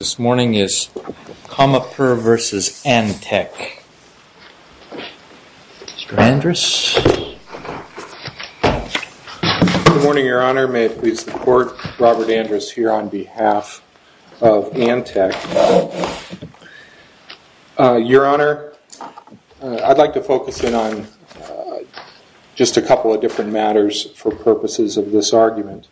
Good morning, your honor. May it please the court, Robert Andrus here on behalf of Antec. Your honor, I'd like to focus in on just a couple of different matters for purposes of this argument.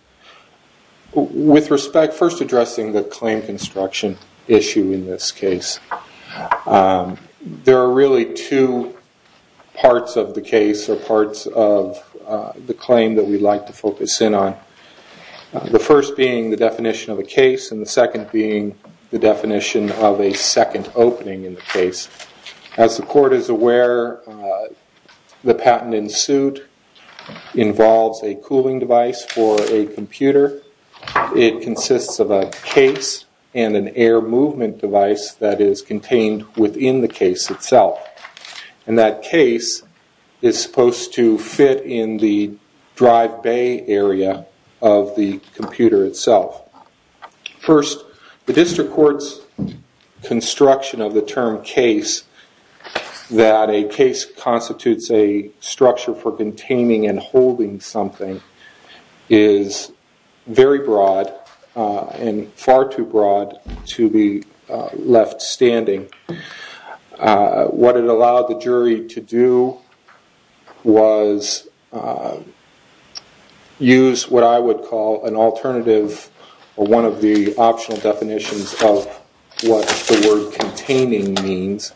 With respect, first addressing the claim construction issue in this case. There are really two parts of the case or parts of the claim that we'd like to focus in on. The first being the definition of a case and the second being the definition of a second opening in the case. As the court is aware, the patent in suit involves a cooling device for a computer. It consists of a case and an air movement device that is contained within the case itself. And that case is supposed to fit in the drive bay area of the computer itself. First, the district court's construction of the term case, that a case constitutes a structure for containing and holding something, is very broad and far too broad to be left standing. What it allowed the jury to do was use what I would call an alternative or one of the optional definitions of what the word containing means.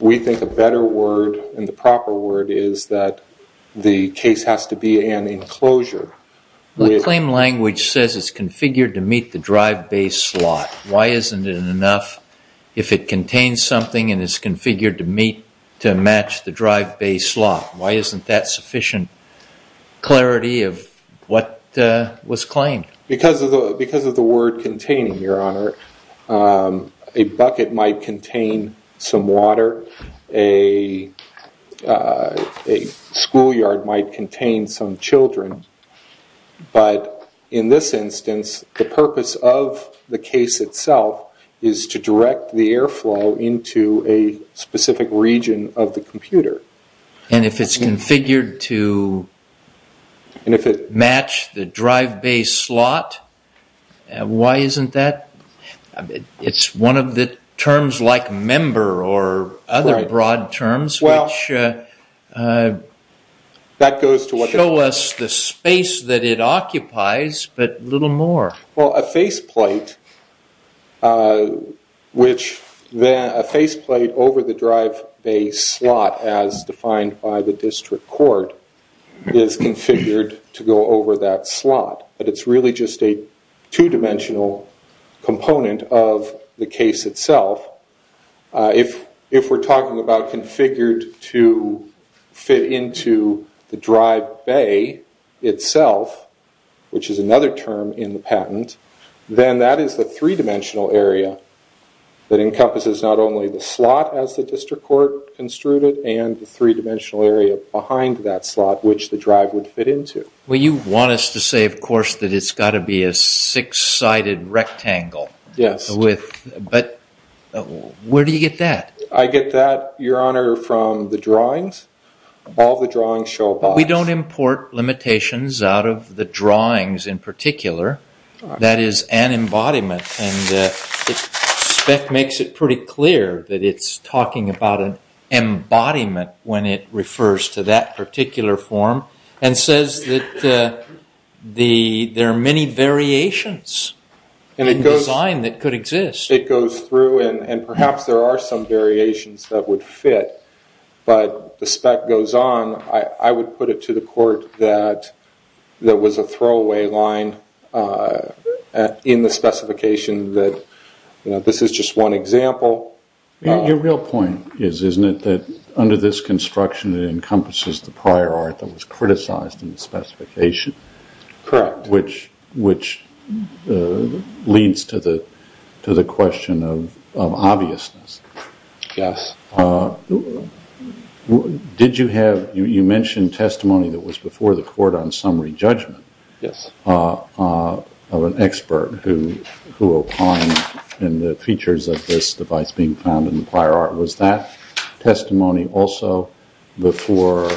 We think a better word and the proper word is that the case has to be an enclosure. The claim language says it's configured to meet the drive bay slot. Why isn't it enough if it contains something and is configured to match the drive bay slot? Why isn't that sufficient clarity of what was claimed? Because of the word containing, Your Honor, a bucket might contain some water. A schoolyard might contain some children. But in this instance, the purpose of the case itself is to direct the airflow into a specific region of the computer. And if it's configured to match the drive bay slot, why isn't that? It's one of the terms like member or other broad terms which show us the space that it occupies, but little more. Well, a faceplate over the drive bay slot as defined by the district court is configured to go over that slot. But it's really just a two-dimensional component of the case itself. If we're talking about configured to fit into the drive bay itself, which is another term in the patent, then that is the three-dimensional area that encompasses not only the slot as the district court construed it and the three-dimensional area behind that slot which the drive would fit into. Well, you want us to say, of course, that it's got to be a six-sided rectangle. Yes. But where do you get that? I get that, Your Honor, from the drawings. All the drawings show a box. We don't import limitations out of the drawings in particular. That is an embodiment. And the spec makes it pretty clear that it's talking about an embodiment when it refers to that particular form and says that there are many variations in design that could exist. It goes through and perhaps there are some variations that would fit. But the spec goes on. I would put it to the court that there was a throwaway line in the specification that this is just one example. Your real point is, isn't it, that under this construction it encompasses the prior art that was criticized in the specification? Correct. Which leads to the question of obviousness. Yes. You mentioned testimony that was before the court on summary judgment of an expert who opined in the features of this device being found in the prior art. Was that testimony also before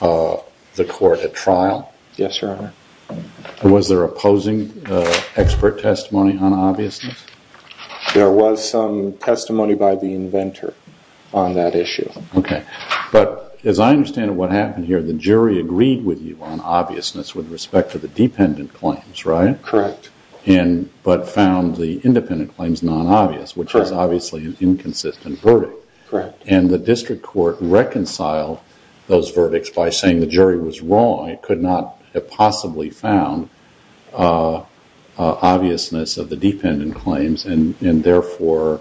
the court at trial? Yes, Your Honor. Was there opposing expert testimony on obviousness? There was some testimony by the inventor on that issue. Okay. But as I understand what happened here, the jury agreed with you on obviousness with respect to the dependent claims, right? Correct. But found the independent claims non-obvious, which is obviously an inconsistent verdict. Correct. And the district court reconciled those verdicts by saying the jury was wrong. It could not have possibly found obviousness of the dependent claims and therefore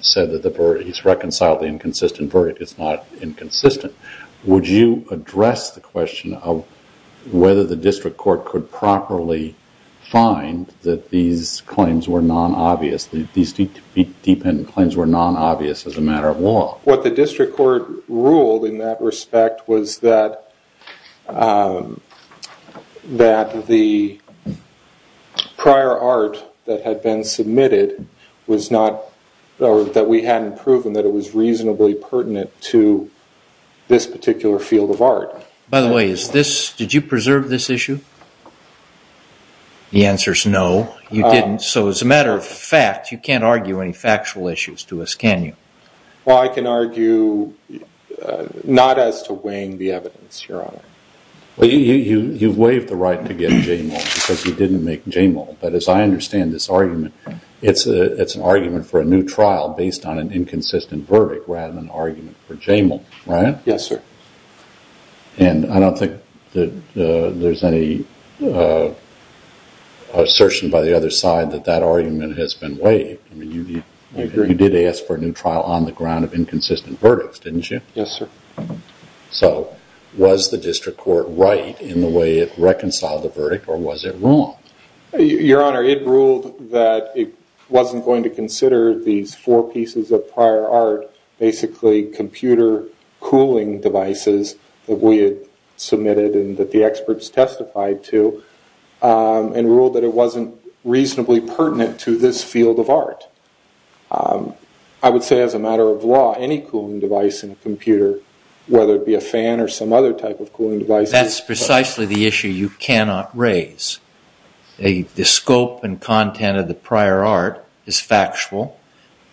said that he's reconciled the inconsistent verdict. It's not inconsistent. Would you address the question of whether the district court could properly find that these claims were non-obvious, these dependent claims were non-obvious as a matter of law? What the district court ruled in that respect was that the prior art that had been submitted was not, or that we hadn't proven that it was reasonably pertinent to this particular field of art. By the way, did you preserve this issue? The answer is no, you didn't. So as a matter of fact, you can't argue any factual issues to us, can you? Well, I can argue not as to weighing the evidence, Your Honor. You've waived the right to get JAMAL because you didn't make JAMAL. But as I understand this argument, it's an argument for a new trial based on an inconsistent verdict rather than an argument for JAMAL, right? Yes, sir. And I don't think that there's any assertion by the other side that that argument has been waived. I agree. You did ask for a new trial on the ground of inconsistent verdicts, didn't you? Yes, sir. So was the district court right in the way it reconciled the verdict or was it wrong? Your Honor, it ruled that it wasn't going to consider these four pieces of prior art, basically computer cooling devices that we had submitted and that the experts testified to, and ruled that it wasn't reasonably pertinent to this field of art. I would say as a matter of law, any cooling device in a computer, whether it be a fan or some other type of cooling device... That's precisely the issue you cannot raise. The scope and content of the prior art is factual.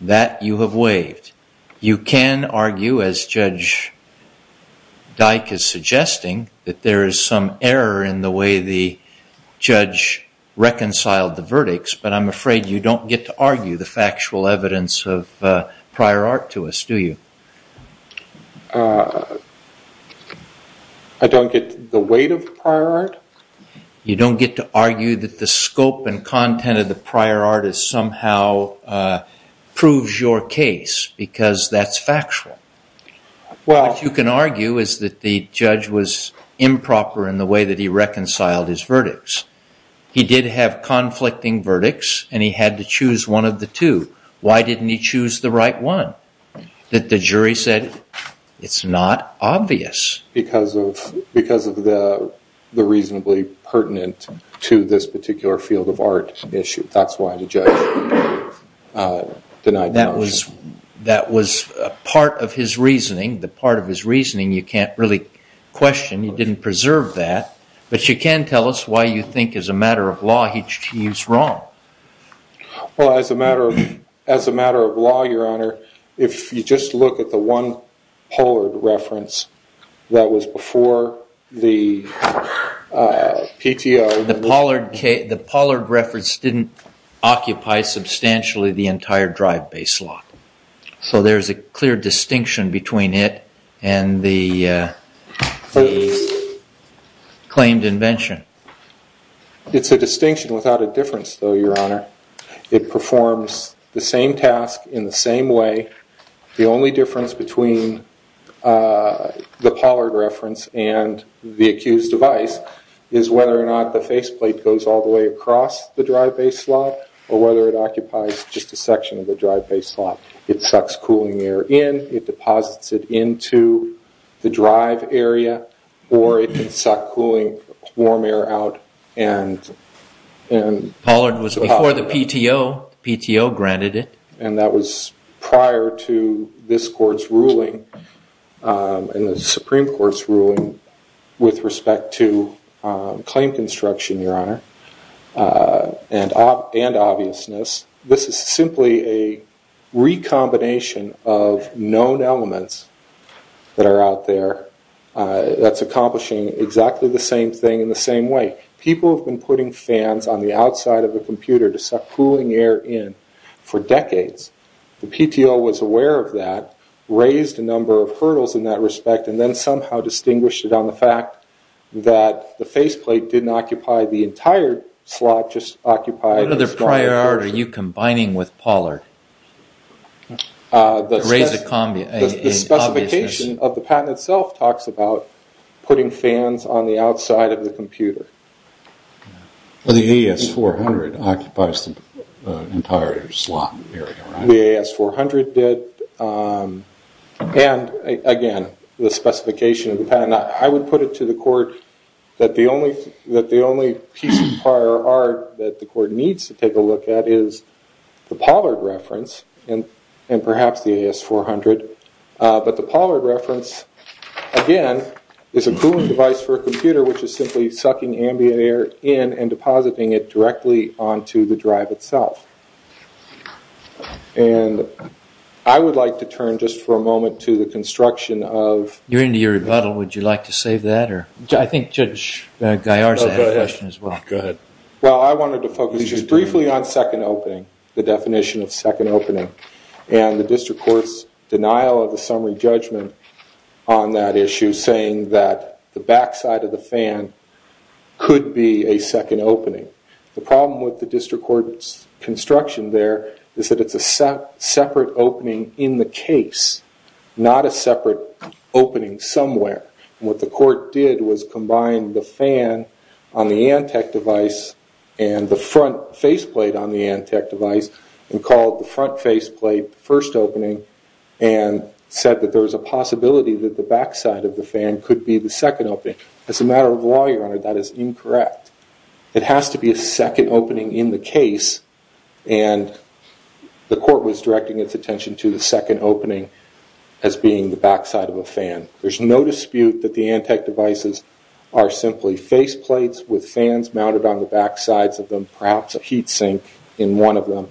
That you have waived. You can argue, as Judge Dyke is suggesting, that there is some error in the way the judge reconciled the verdicts, but I'm afraid you don't get to argue the factual evidence of prior art to us, do you? I don't get the weight of prior art? You don't get to argue that the scope and content of the prior art is somehow proves your case because that's factual. What you can argue is that the judge was improper in the way that he reconciled his verdicts. He did have conflicting verdicts and he had to choose one of the two. Why didn't he choose the right one? That the jury said it's not obvious. Because of the reasonably pertinent to this particular field of art issue. That's why the judge denied the motion. That was part of his reasoning. The part of his reasoning you can't really question. He didn't preserve that. But you can tell us why you think as a matter of law he's wrong. As a matter of law, your honor, if you just look at the one Pollard reference that was before the PTO. The Pollard reference didn't occupy substantially the entire drive-based law. So there's a clear distinction between it and the claimed invention. It's a distinction without a difference though, your honor. It performs the same task in the same way. The only difference between the Pollard reference and the accused device is whether or not the faceplate goes all the way across the drive-based law. Or whether it occupies just a section of the drive-based law. It sucks cooling air in. It deposits it into the drive area. Or it can suck cooling warm air out. Pollard was before the PTO. PTO granted it. And that was prior to this court's ruling and the Supreme Court's ruling with respect to claim construction, your honor. And obviousness. This is simply a recombination of known elements that are out there. That's accomplishing exactly the same thing in the same way. People have been putting fans on the outside of the computer to suck cooling air in for decades. The PTO was aware of that. Raised a number of hurdles in that respect. And then somehow distinguished it on the fact that the faceplate didn't occupy the entire slot. What other prior art are you combining with Pollard? To raise an obviousness. The specification of the patent itself talks about putting fans on the outside of the computer. The AS-400 occupies the entire slot. The AS-400 did. And, again, the specification of the patent. I would put it to the court that the only piece of prior art that the court needs to take a look at is the Pollard reference and perhaps the AS-400. But the Pollard reference, again, is a cooling device for a computer which is simply sucking ambient air in and depositing it directly onto the drive itself. And I would like to turn just for a moment to the construction of... You're into your rebuttal. Would you like to save that? I think Judge Gallarza had a question as well. Go ahead. Well, I wanted to focus just briefly on second opening. The definition of second opening. And the district court's denial of the summary judgment on that issue saying that the backside of the fan could be a second opening. The problem with the district court's construction there is that it's a separate opening in the case, not a separate opening somewhere. And what the court did was combine the fan on the Antec device and the front faceplate on the Antec device and called the front faceplate the first opening and said that there was a possibility that the backside of the fan could be the second opening. As a matter of law, Your Honor, that is incorrect. It has to be a second opening in the case and the court was directing its attention to the second opening as being the backside of a fan. There's no dispute that the Antec devices are simply faceplates with fans mounted on the backsides of them, perhaps a heat sink in one of them.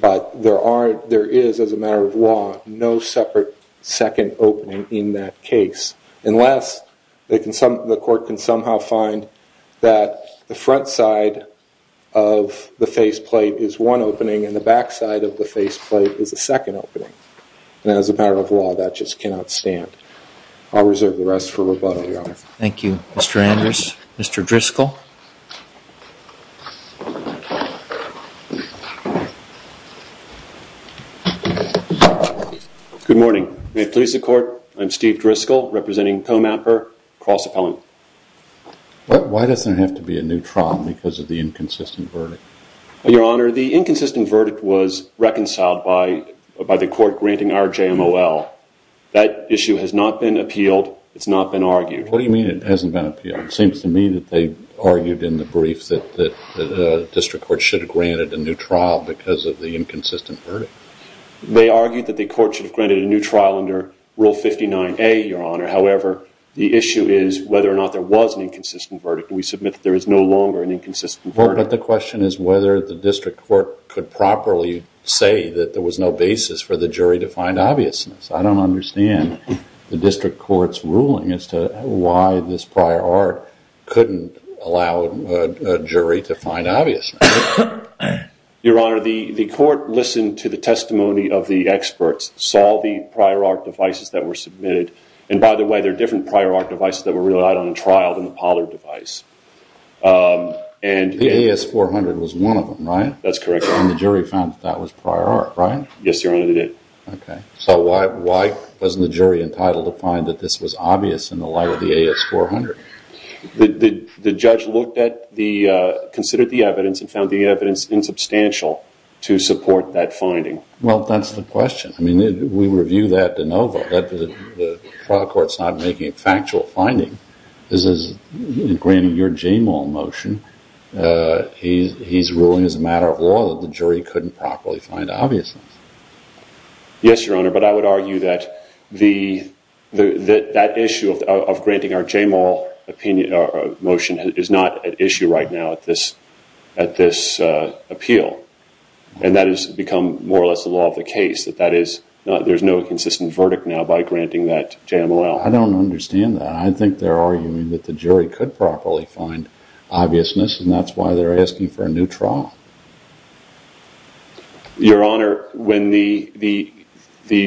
But there is, as a matter of law, no separate second opening in that case. Unless the court can somehow find that the front side of the faceplate is one opening and the backside of the faceplate is a second opening. And as a matter of law, that just cannot stand. I'll reserve the rest for rebuttal, Your Honor. Thank you, Mr. Andrews. Mr. Driscoll. Good morning. Good morning. May it please the court, I'm Steve Driscoll representing Comapper Cross Appellant. Why does there have to be a new trial because of the inconsistent verdict? Your Honor, the inconsistent verdict was reconciled by the court granting RJMOL. That issue has not been appealed. It's not been argued. What do you mean it hasn't been appealed? It seems to me that they argued in the brief that the district court should have granted a new trial because of the inconsistent verdict. They argued that the court should have granted a new trial under Rule 59A, Your Honor. However, the issue is whether or not there was an inconsistent verdict. We submit that there is no longer an inconsistent verdict. But the question is whether the district court could properly say that there was no basis for the jury to find obviousness. I don't understand the district court's ruling as to why this prior art couldn't allow a jury to find obviousness. Your Honor, the court listened to the testimony of the experts, saw the prior art devices that were submitted. And by the way, there are different prior art devices that were relied on in trial than the Pollard device. The AS400 was one of them, right? That's correct. And the jury found that that was prior art, right? Yes, Your Honor, they did. Okay. So why wasn't the jury entitled to find that this was obvious in the light of the AS400? The judge considered the evidence and found the evidence insubstantial to support that finding. Well, that's the question. I mean, we review that de novo. The trial court's not making a factual finding. This is granting your JMOL motion. He's ruling as a matter of law that the jury couldn't properly find obviousness. Yes, Your Honor, but I would argue that that issue of granting our JMOL motion is not at issue right now at this appeal. And that has become more or less the law of the case, that there's no consistent verdict now by granting that JMOL. I don't understand that. I think they're arguing that the jury could properly find obviousness, and that's why they're asking for a new trial. Your Honor, when the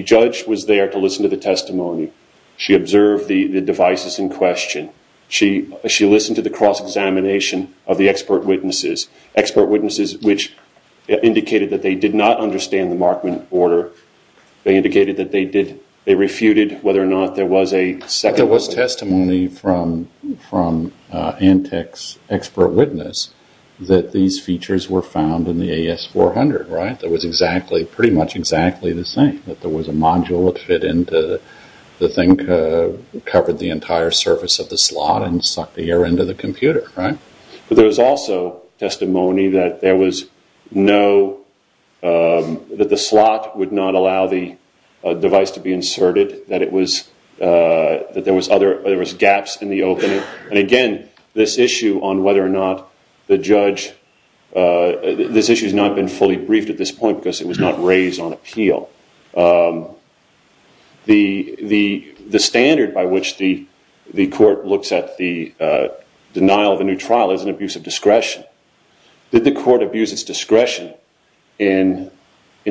judge was there to listen to the testimony, she observed the devices in question. She listened to the cross-examination of the expert witnesses, expert witnesses which indicated that they did not understand the Markman order. They indicated that they refuted whether or not there was a second order. I think there was testimony from Antec's expert witness that these features were found in the AS400, right? That was pretty much exactly the same, that there was a module that fit into the thing, covered the entire surface of the slot, and sucked air into the computer, right? But there was also testimony that the slot would not allow the device to be inserted, that there was gaps in the opening. And again, this issue has not been fully briefed at this point because it was not raised on appeal. The standard by which the court looks at the denial of a new trial is an abuse of discretion. Did the court abuse its discretion in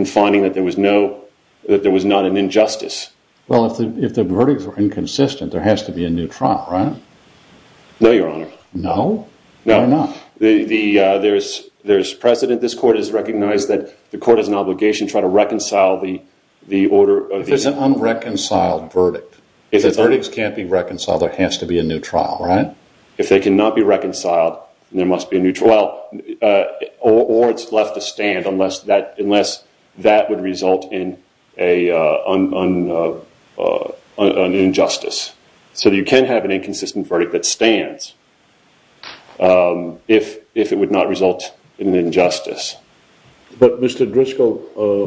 finding that there was not an injustice? Well, if the verdicts were inconsistent, there has to be a new trial, right? No, Your Honor. No? Why not? There's precedent. This court has recognized that the court has an obligation to try to reconcile the order. If there's an unreconciled verdict, if the verdicts can't be reconciled, there has to be a new trial, right? If they cannot be reconciled, there must be a new trial, or it's left to stand unless that would result in an injustice. So you can have an inconsistent verdict that stands if it would not result in an injustice. But, Mr. Driscoll,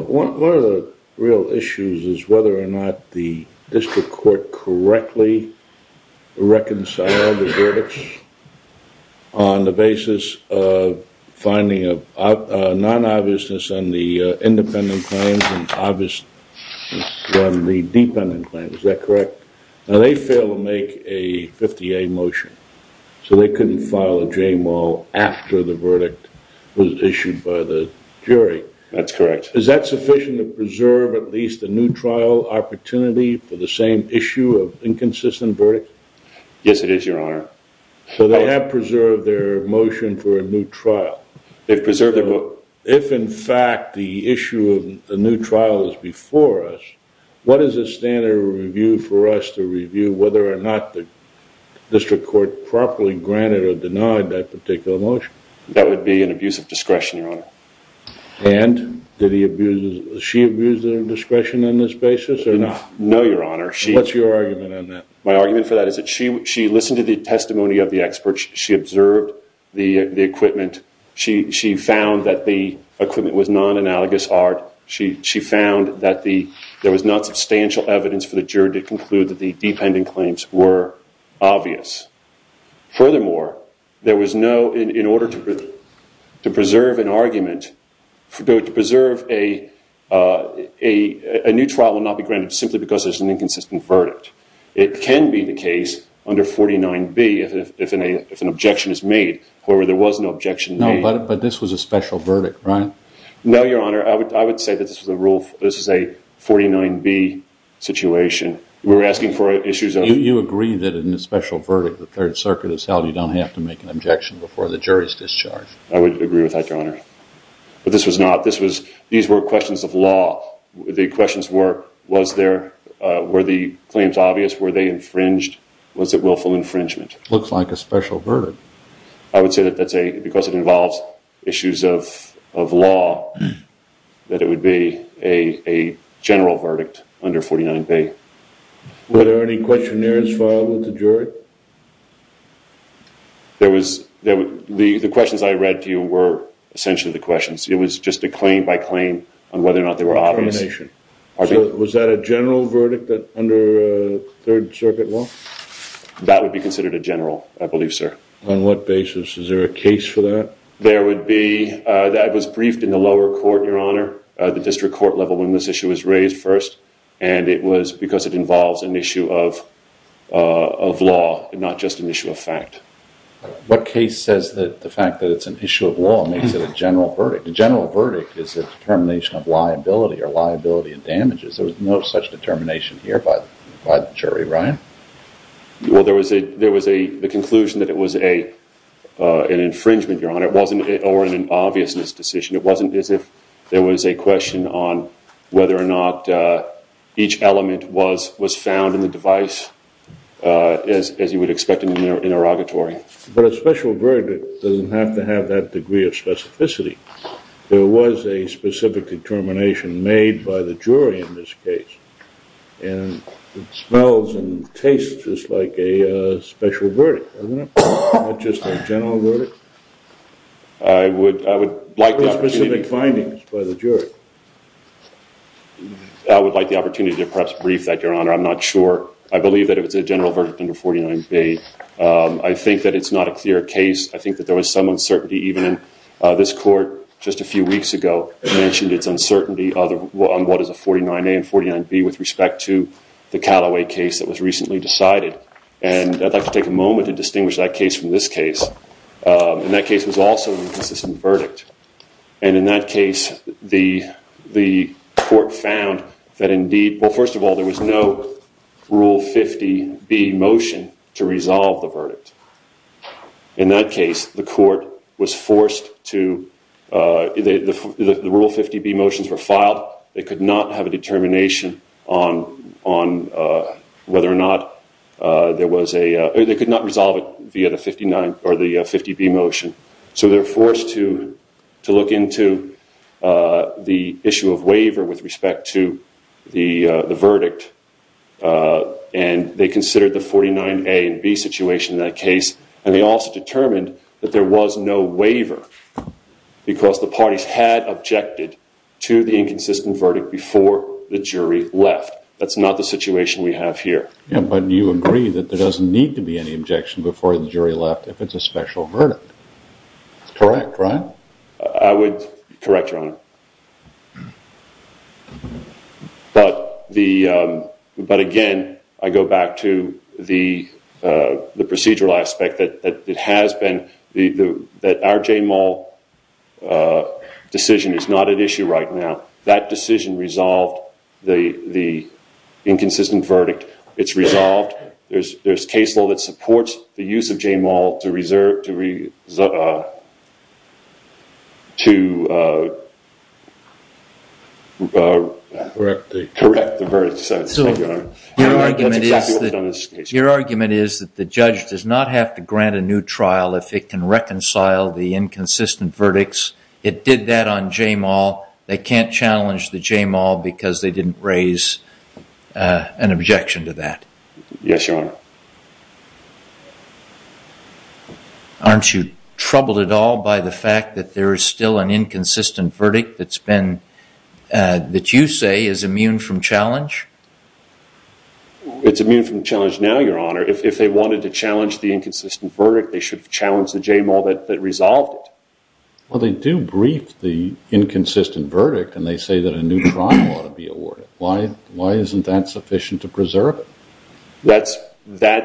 one of the real issues is whether or not the district court correctly reconciled the verdicts on the basis of finding a non-obviousness on the independent claims and obviousness on the dependent claims. Is that correct? Now, they failed to make a 50-A motion, so they couldn't file a J-mole after the verdict was issued by the jury. That's correct. Is that sufficient to preserve at least a new trial opportunity for the same issue of inconsistent verdicts? Yes, it is, Your Honor. So they have preserved their motion for a new trial. They've preserved their vote. That would be an abuse of discretion, Your Honor. And did she abuse their discretion on this basis or not? No, Your Honor. What's your argument on that? My argument for that is that she listened to the testimony of the experts, she observed the equipment, she found that the equipment was non-analogous art, she found that there was not substantial evidence for the jury to conclude that the dependent claims were obvious. Furthermore, in order to preserve an argument, a new trial will not be granted simply because there's an inconsistent verdict. It can be the case under 49B if an objection is made, however, there was no objection made. No, but this was a special verdict, right? No, Your Honor. I would say that this is a 49B situation. We're asking for issues of... You agree that in a special verdict, the Third Circuit has held you don't have to make an objection before the jury's discharge? I would agree with that, Your Honor. But this was not. These were questions of law. The questions were, were the claims obvious? Were they infringed? Was it willful infringement? Looks like a special verdict. I would say that because it involves issues of law, that it would be a general verdict under 49B. Were there any questionnaires filed with the jury? The questions I read to you were essentially the questions. It was just a claim by claim on whether or not they were obvious. Was that a general verdict under Third Circuit law? That would be considered a general, I believe, sir. On what basis? Is there a case for that? There would be. That was briefed in the lower court, Your Honor, the district court level when this issue was raised first. And it was because it involves an issue of law and not just an issue of fact. What case says that the fact that it's an issue of law makes it a general verdict? A general verdict is a determination of liability or liability of damages. There was no such determination here by the jury. Ryan? Well, there was a conclusion that it was an infringement, Your Honor, or an obviousness decision. It wasn't as if there was a question on whether or not each element was found in the device, as you would expect in an interrogatory. But a special verdict doesn't have to have that degree of specificity. There was a specific determination made by the jury in this case. And it smells and tastes just like a special verdict, doesn't it? Not just a general verdict. I would like the opportunity- There were specific findings by the jury. I would like the opportunity to perhaps brief that, Your Honor. I'm not sure. I believe that if it's a general verdict under 49B, I think that it's not a clear case. I think that there was some uncertainty even in this court just a few weeks ago. It mentioned its uncertainty on what is a 49A and 49B with respect to the Callaway case that was recently decided. And I'd like to take a moment to distinguish that case from this case. And that case was also an inconsistent verdict. And in that case, the court found that indeed- Well, first of all, there was no Rule 50B motion to resolve the verdict. In that case, the court was forced to- The Rule 50B motions were filed. They could not have a determination on whether or not there was a- They could not resolve it via the 50B motion. So they were forced to look into the issue of waiver with respect to the verdict. And they considered the 49A and 49B situation in that case. And they also determined that there was no waiver because the parties had objected to the inconsistent verdict before the jury left. That's not the situation we have here. Yeah, but you agree that there doesn't need to be any objection before the jury left if it's a special verdict. That's correct, right? I would correct, Your Honor. But again, I go back to the procedural aspect that it has been- That our J-Mall decision is not at issue right now. That decision resolved the inconsistent verdict. It's resolved. There's case law that supports the use of J-Mall to reserve- To correct the verdict. Your argument is that the judge does not have to grant a new trial if it can reconcile the inconsistent verdicts. It did that on J-Mall. They can't challenge the J-Mall because they didn't raise an objection to that. Yes, Your Honor. Aren't you troubled at all by the fact that there is still an inconsistent verdict that you say is immune from challenge? It's immune from challenge now, Your Honor. If they wanted to challenge the inconsistent verdict, they should have challenged the J-Mall that resolved it. Well, they do brief the inconsistent verdict and they say that a new trial ought to be awarded. Why isn't that sufficient to preserve it? That's under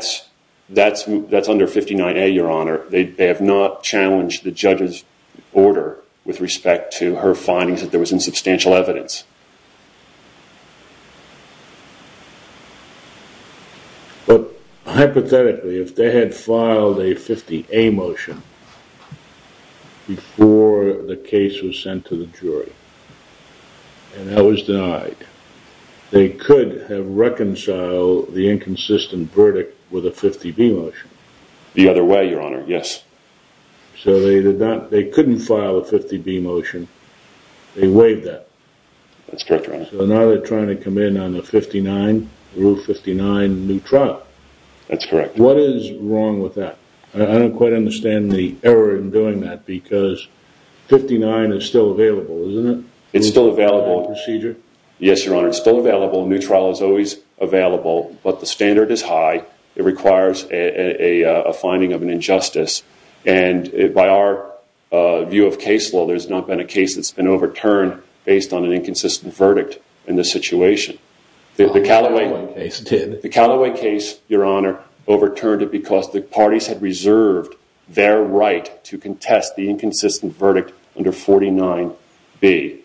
59A, Your Honor. They have not challenged the judge's order with respect to her findings that there was insubstantial evidence. But, hypothetically, if they had filed a 50A motion before the case was sent to the jury and that was denied, they could have reconciled the inconsistent verdict with a 50B motion. The other way, Your Honor. Yes. So they couldn't file a 50B motion. They waived that. That's correct, Your Honor. So now they're trying to come in on the 59, Rule 59, new trial. That's correct. What is wrong with that? I don't quite understand the error in doing that because 59 is still available, isn't it? It's still available. Yes, Your Honor. It's still available. A new trial is always available. But the standard is high. It requires a finding of an injustice. And by our view of case law, there's not been a case that's been overturned based on an inconsistent verdict in this situation. The Callaway case, Your Honor, overturned it because the parties had reserved their right to contest the inconsistent verdict under 49B.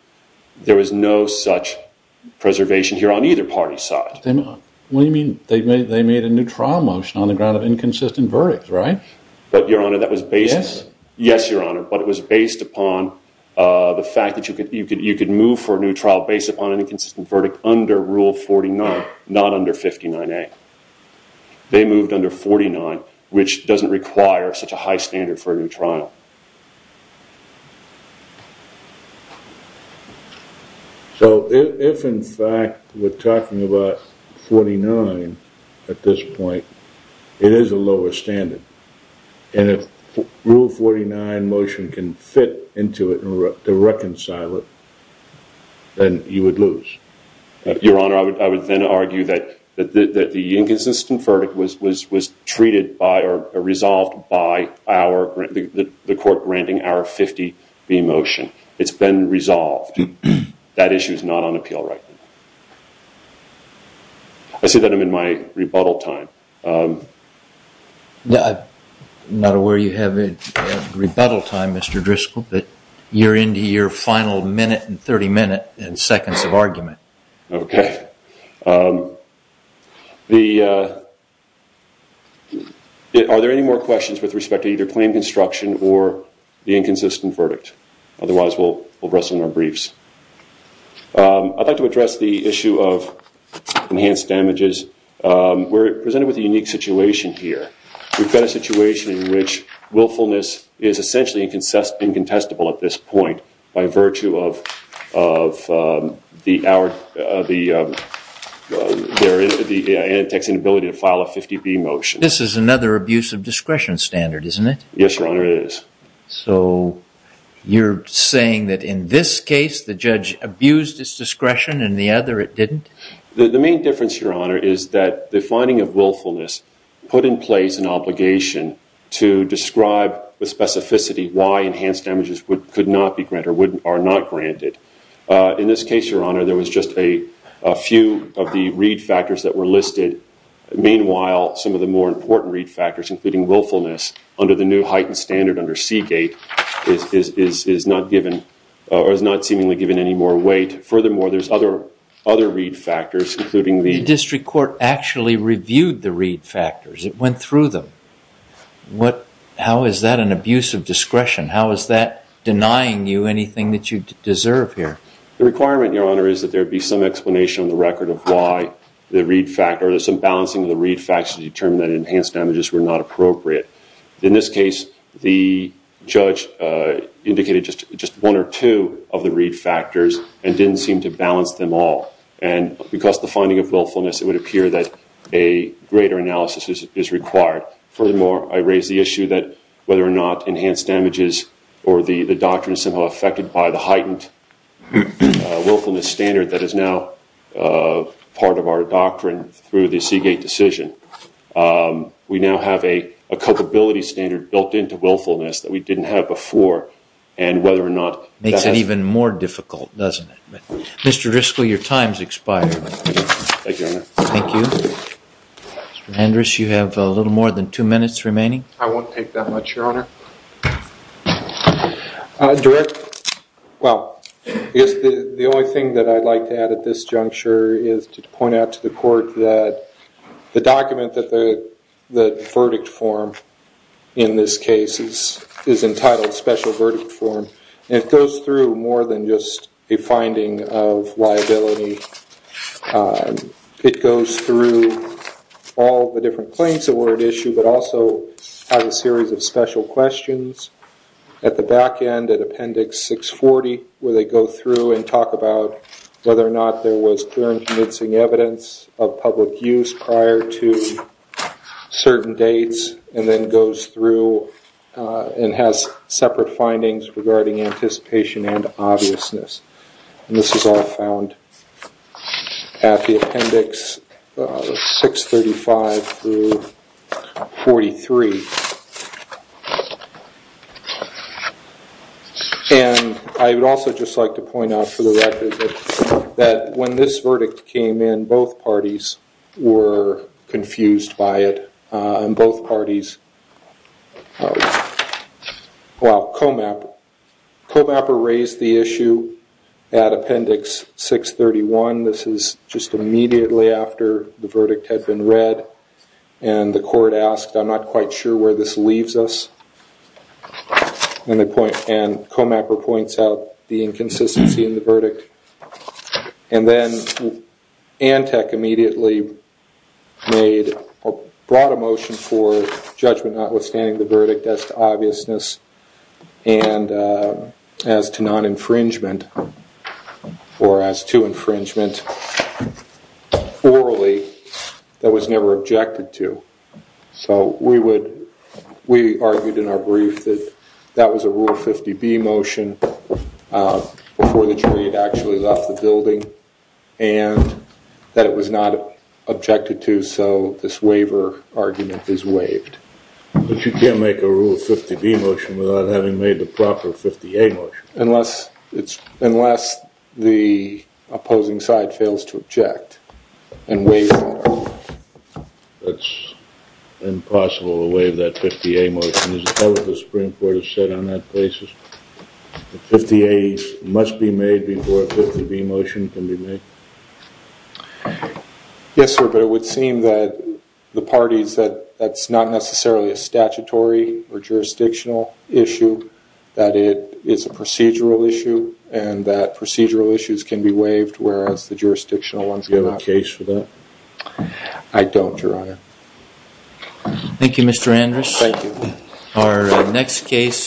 There was no such preservation here on either party's side. What do you mean? They made a new trial motion on the ground of inconsistent verdict, right? But, Your Honor, that was based... Yes? Yes, Your Honor, but it was based upon the fact that you could move for a new trial based upon an inconsistent verdict under Rule 49, not under 59A. They moved under 49, which doesn't require such a high standard for a new trial. So, if in fact we're talking about 49 at this point, it is a lower standard. And if Rule 49 motion can fit into it to reconcile it, then you would lose. Your Honor, I would then argue that the inconsistent verdict was treated by or resolved by the court granting our 50B motion. It's been resolved. That issue is not on appeal right now. I see that I'm in my rebuttal time. I'm not aware you have rebuttal time, Mr. Driscoll, but you're into your final minute and 30 minutes and seconds of argument. Okay. Are there any more questions with respect to either claim construction or the inconsistent verdict? Otherwise, we'll wrestle in our briefs. I'd like to address the issue of enhanced damages. We're presented with a unique situation here. We've got a situation in which willfulness is essentially incontestable at this point by virtue of the antex inability to file a 50B motion. This is another abuse of discretion standard, isn't it? Yes, Your Honor, it is. So, you're saying that in this case the judge abused his discretion and in the other it didn't? The main difference, Your Honor, is that the finding of willfulness put in place an obligation to describe with specificity why enhanced damages could not be granted or are not granted. In this case, Your Honor, there was just a few of the read factors that were listed. Meanwhile, some of the more important read factors including willfulness under the new heightened standard under Seagate is not given or is not seemingly given any more weight. Furthermore, there's other read factors including the- The district court actually reviewed the read factors. It went through them. How is that an abuse of discretion? How is that denying you anything that you deserve here? The requirement, Your Honor, is that there be some explanation on the record of why the read factor or some balancing of the read factors determined that enhanced damages were not appropriate. In this case, the judge indicated just one or two of the read factors and didn't seem to balance them all. And because the finding of willfulness, it would appear that a greater analysis is required. Furthermore, I raise the issue that whether or not enhanced damages or the doctrine is somehow affected by the heightened willfulness standard that is now part of our doctrine through the Seagate decision. We now have a culpability standard built into willfulness that we didn't have before and whether or not- Makes it even more difficult, doesn't it? Mr. Driscoll, your time's expired. Thank you, Your Honor. Thank you. Mr. Andrus, you have a little more than two minutes remaining. I won't take that much, Your Honor. Well, the only thing that I'd like to add at this juncture is to point out to the court that the document that the verdict form in this case is entitled special verdict form. And it goes through more than just a finding of liability. It goes through all the different claims that were at issue, but also has a series of special questions. At the back end, at Appendix 640, where they go through and talk about whether or not there was clear and convincing evidence of public use prior to certain dates, and then goes through and has separate findings regarding anticipation and obviousness. And this is all found at the Appendix 635 through 43. And I would also just like to point out for the record that when this verdict came in, both parties were confused by it. Both parties. Well, Comapper raised the issue at Appendix 631. This is just immediately after the verdict had been read. And the court asked, I'm not quite sure where this leaves us. And Comapper points out the inconsistency in the verdict. And then Antec immediately brought a motion for judgment notwithstanding the verdict as to obviousness and as to non-infringement, or as to infringement orally that was never objected to. So we argued in our brief that that was a Rule 50B motion before the jury had actually left the building, and that it was not objected to, so this waiver argument is waived. But you can't make a Rule 50B motion without having made the proper 50A motion. Unless the opposing side fails to object and waives that argument. That's impossible to waive that 50A motion. Has the Supreme Court ever said on that basis that 50A must be made before a 50B motion can be made? Yes, sir, but it would seem that the parties that that's not necessarily a statutory or jurisdictional issue, that it is a procedural issue, and that procedural issues can be waived, whereas the jurisdictional ones cannot. Do you have a case for that? I don't, Your Honor. Thank you, Mr. Andrus. Thank you. Our next case...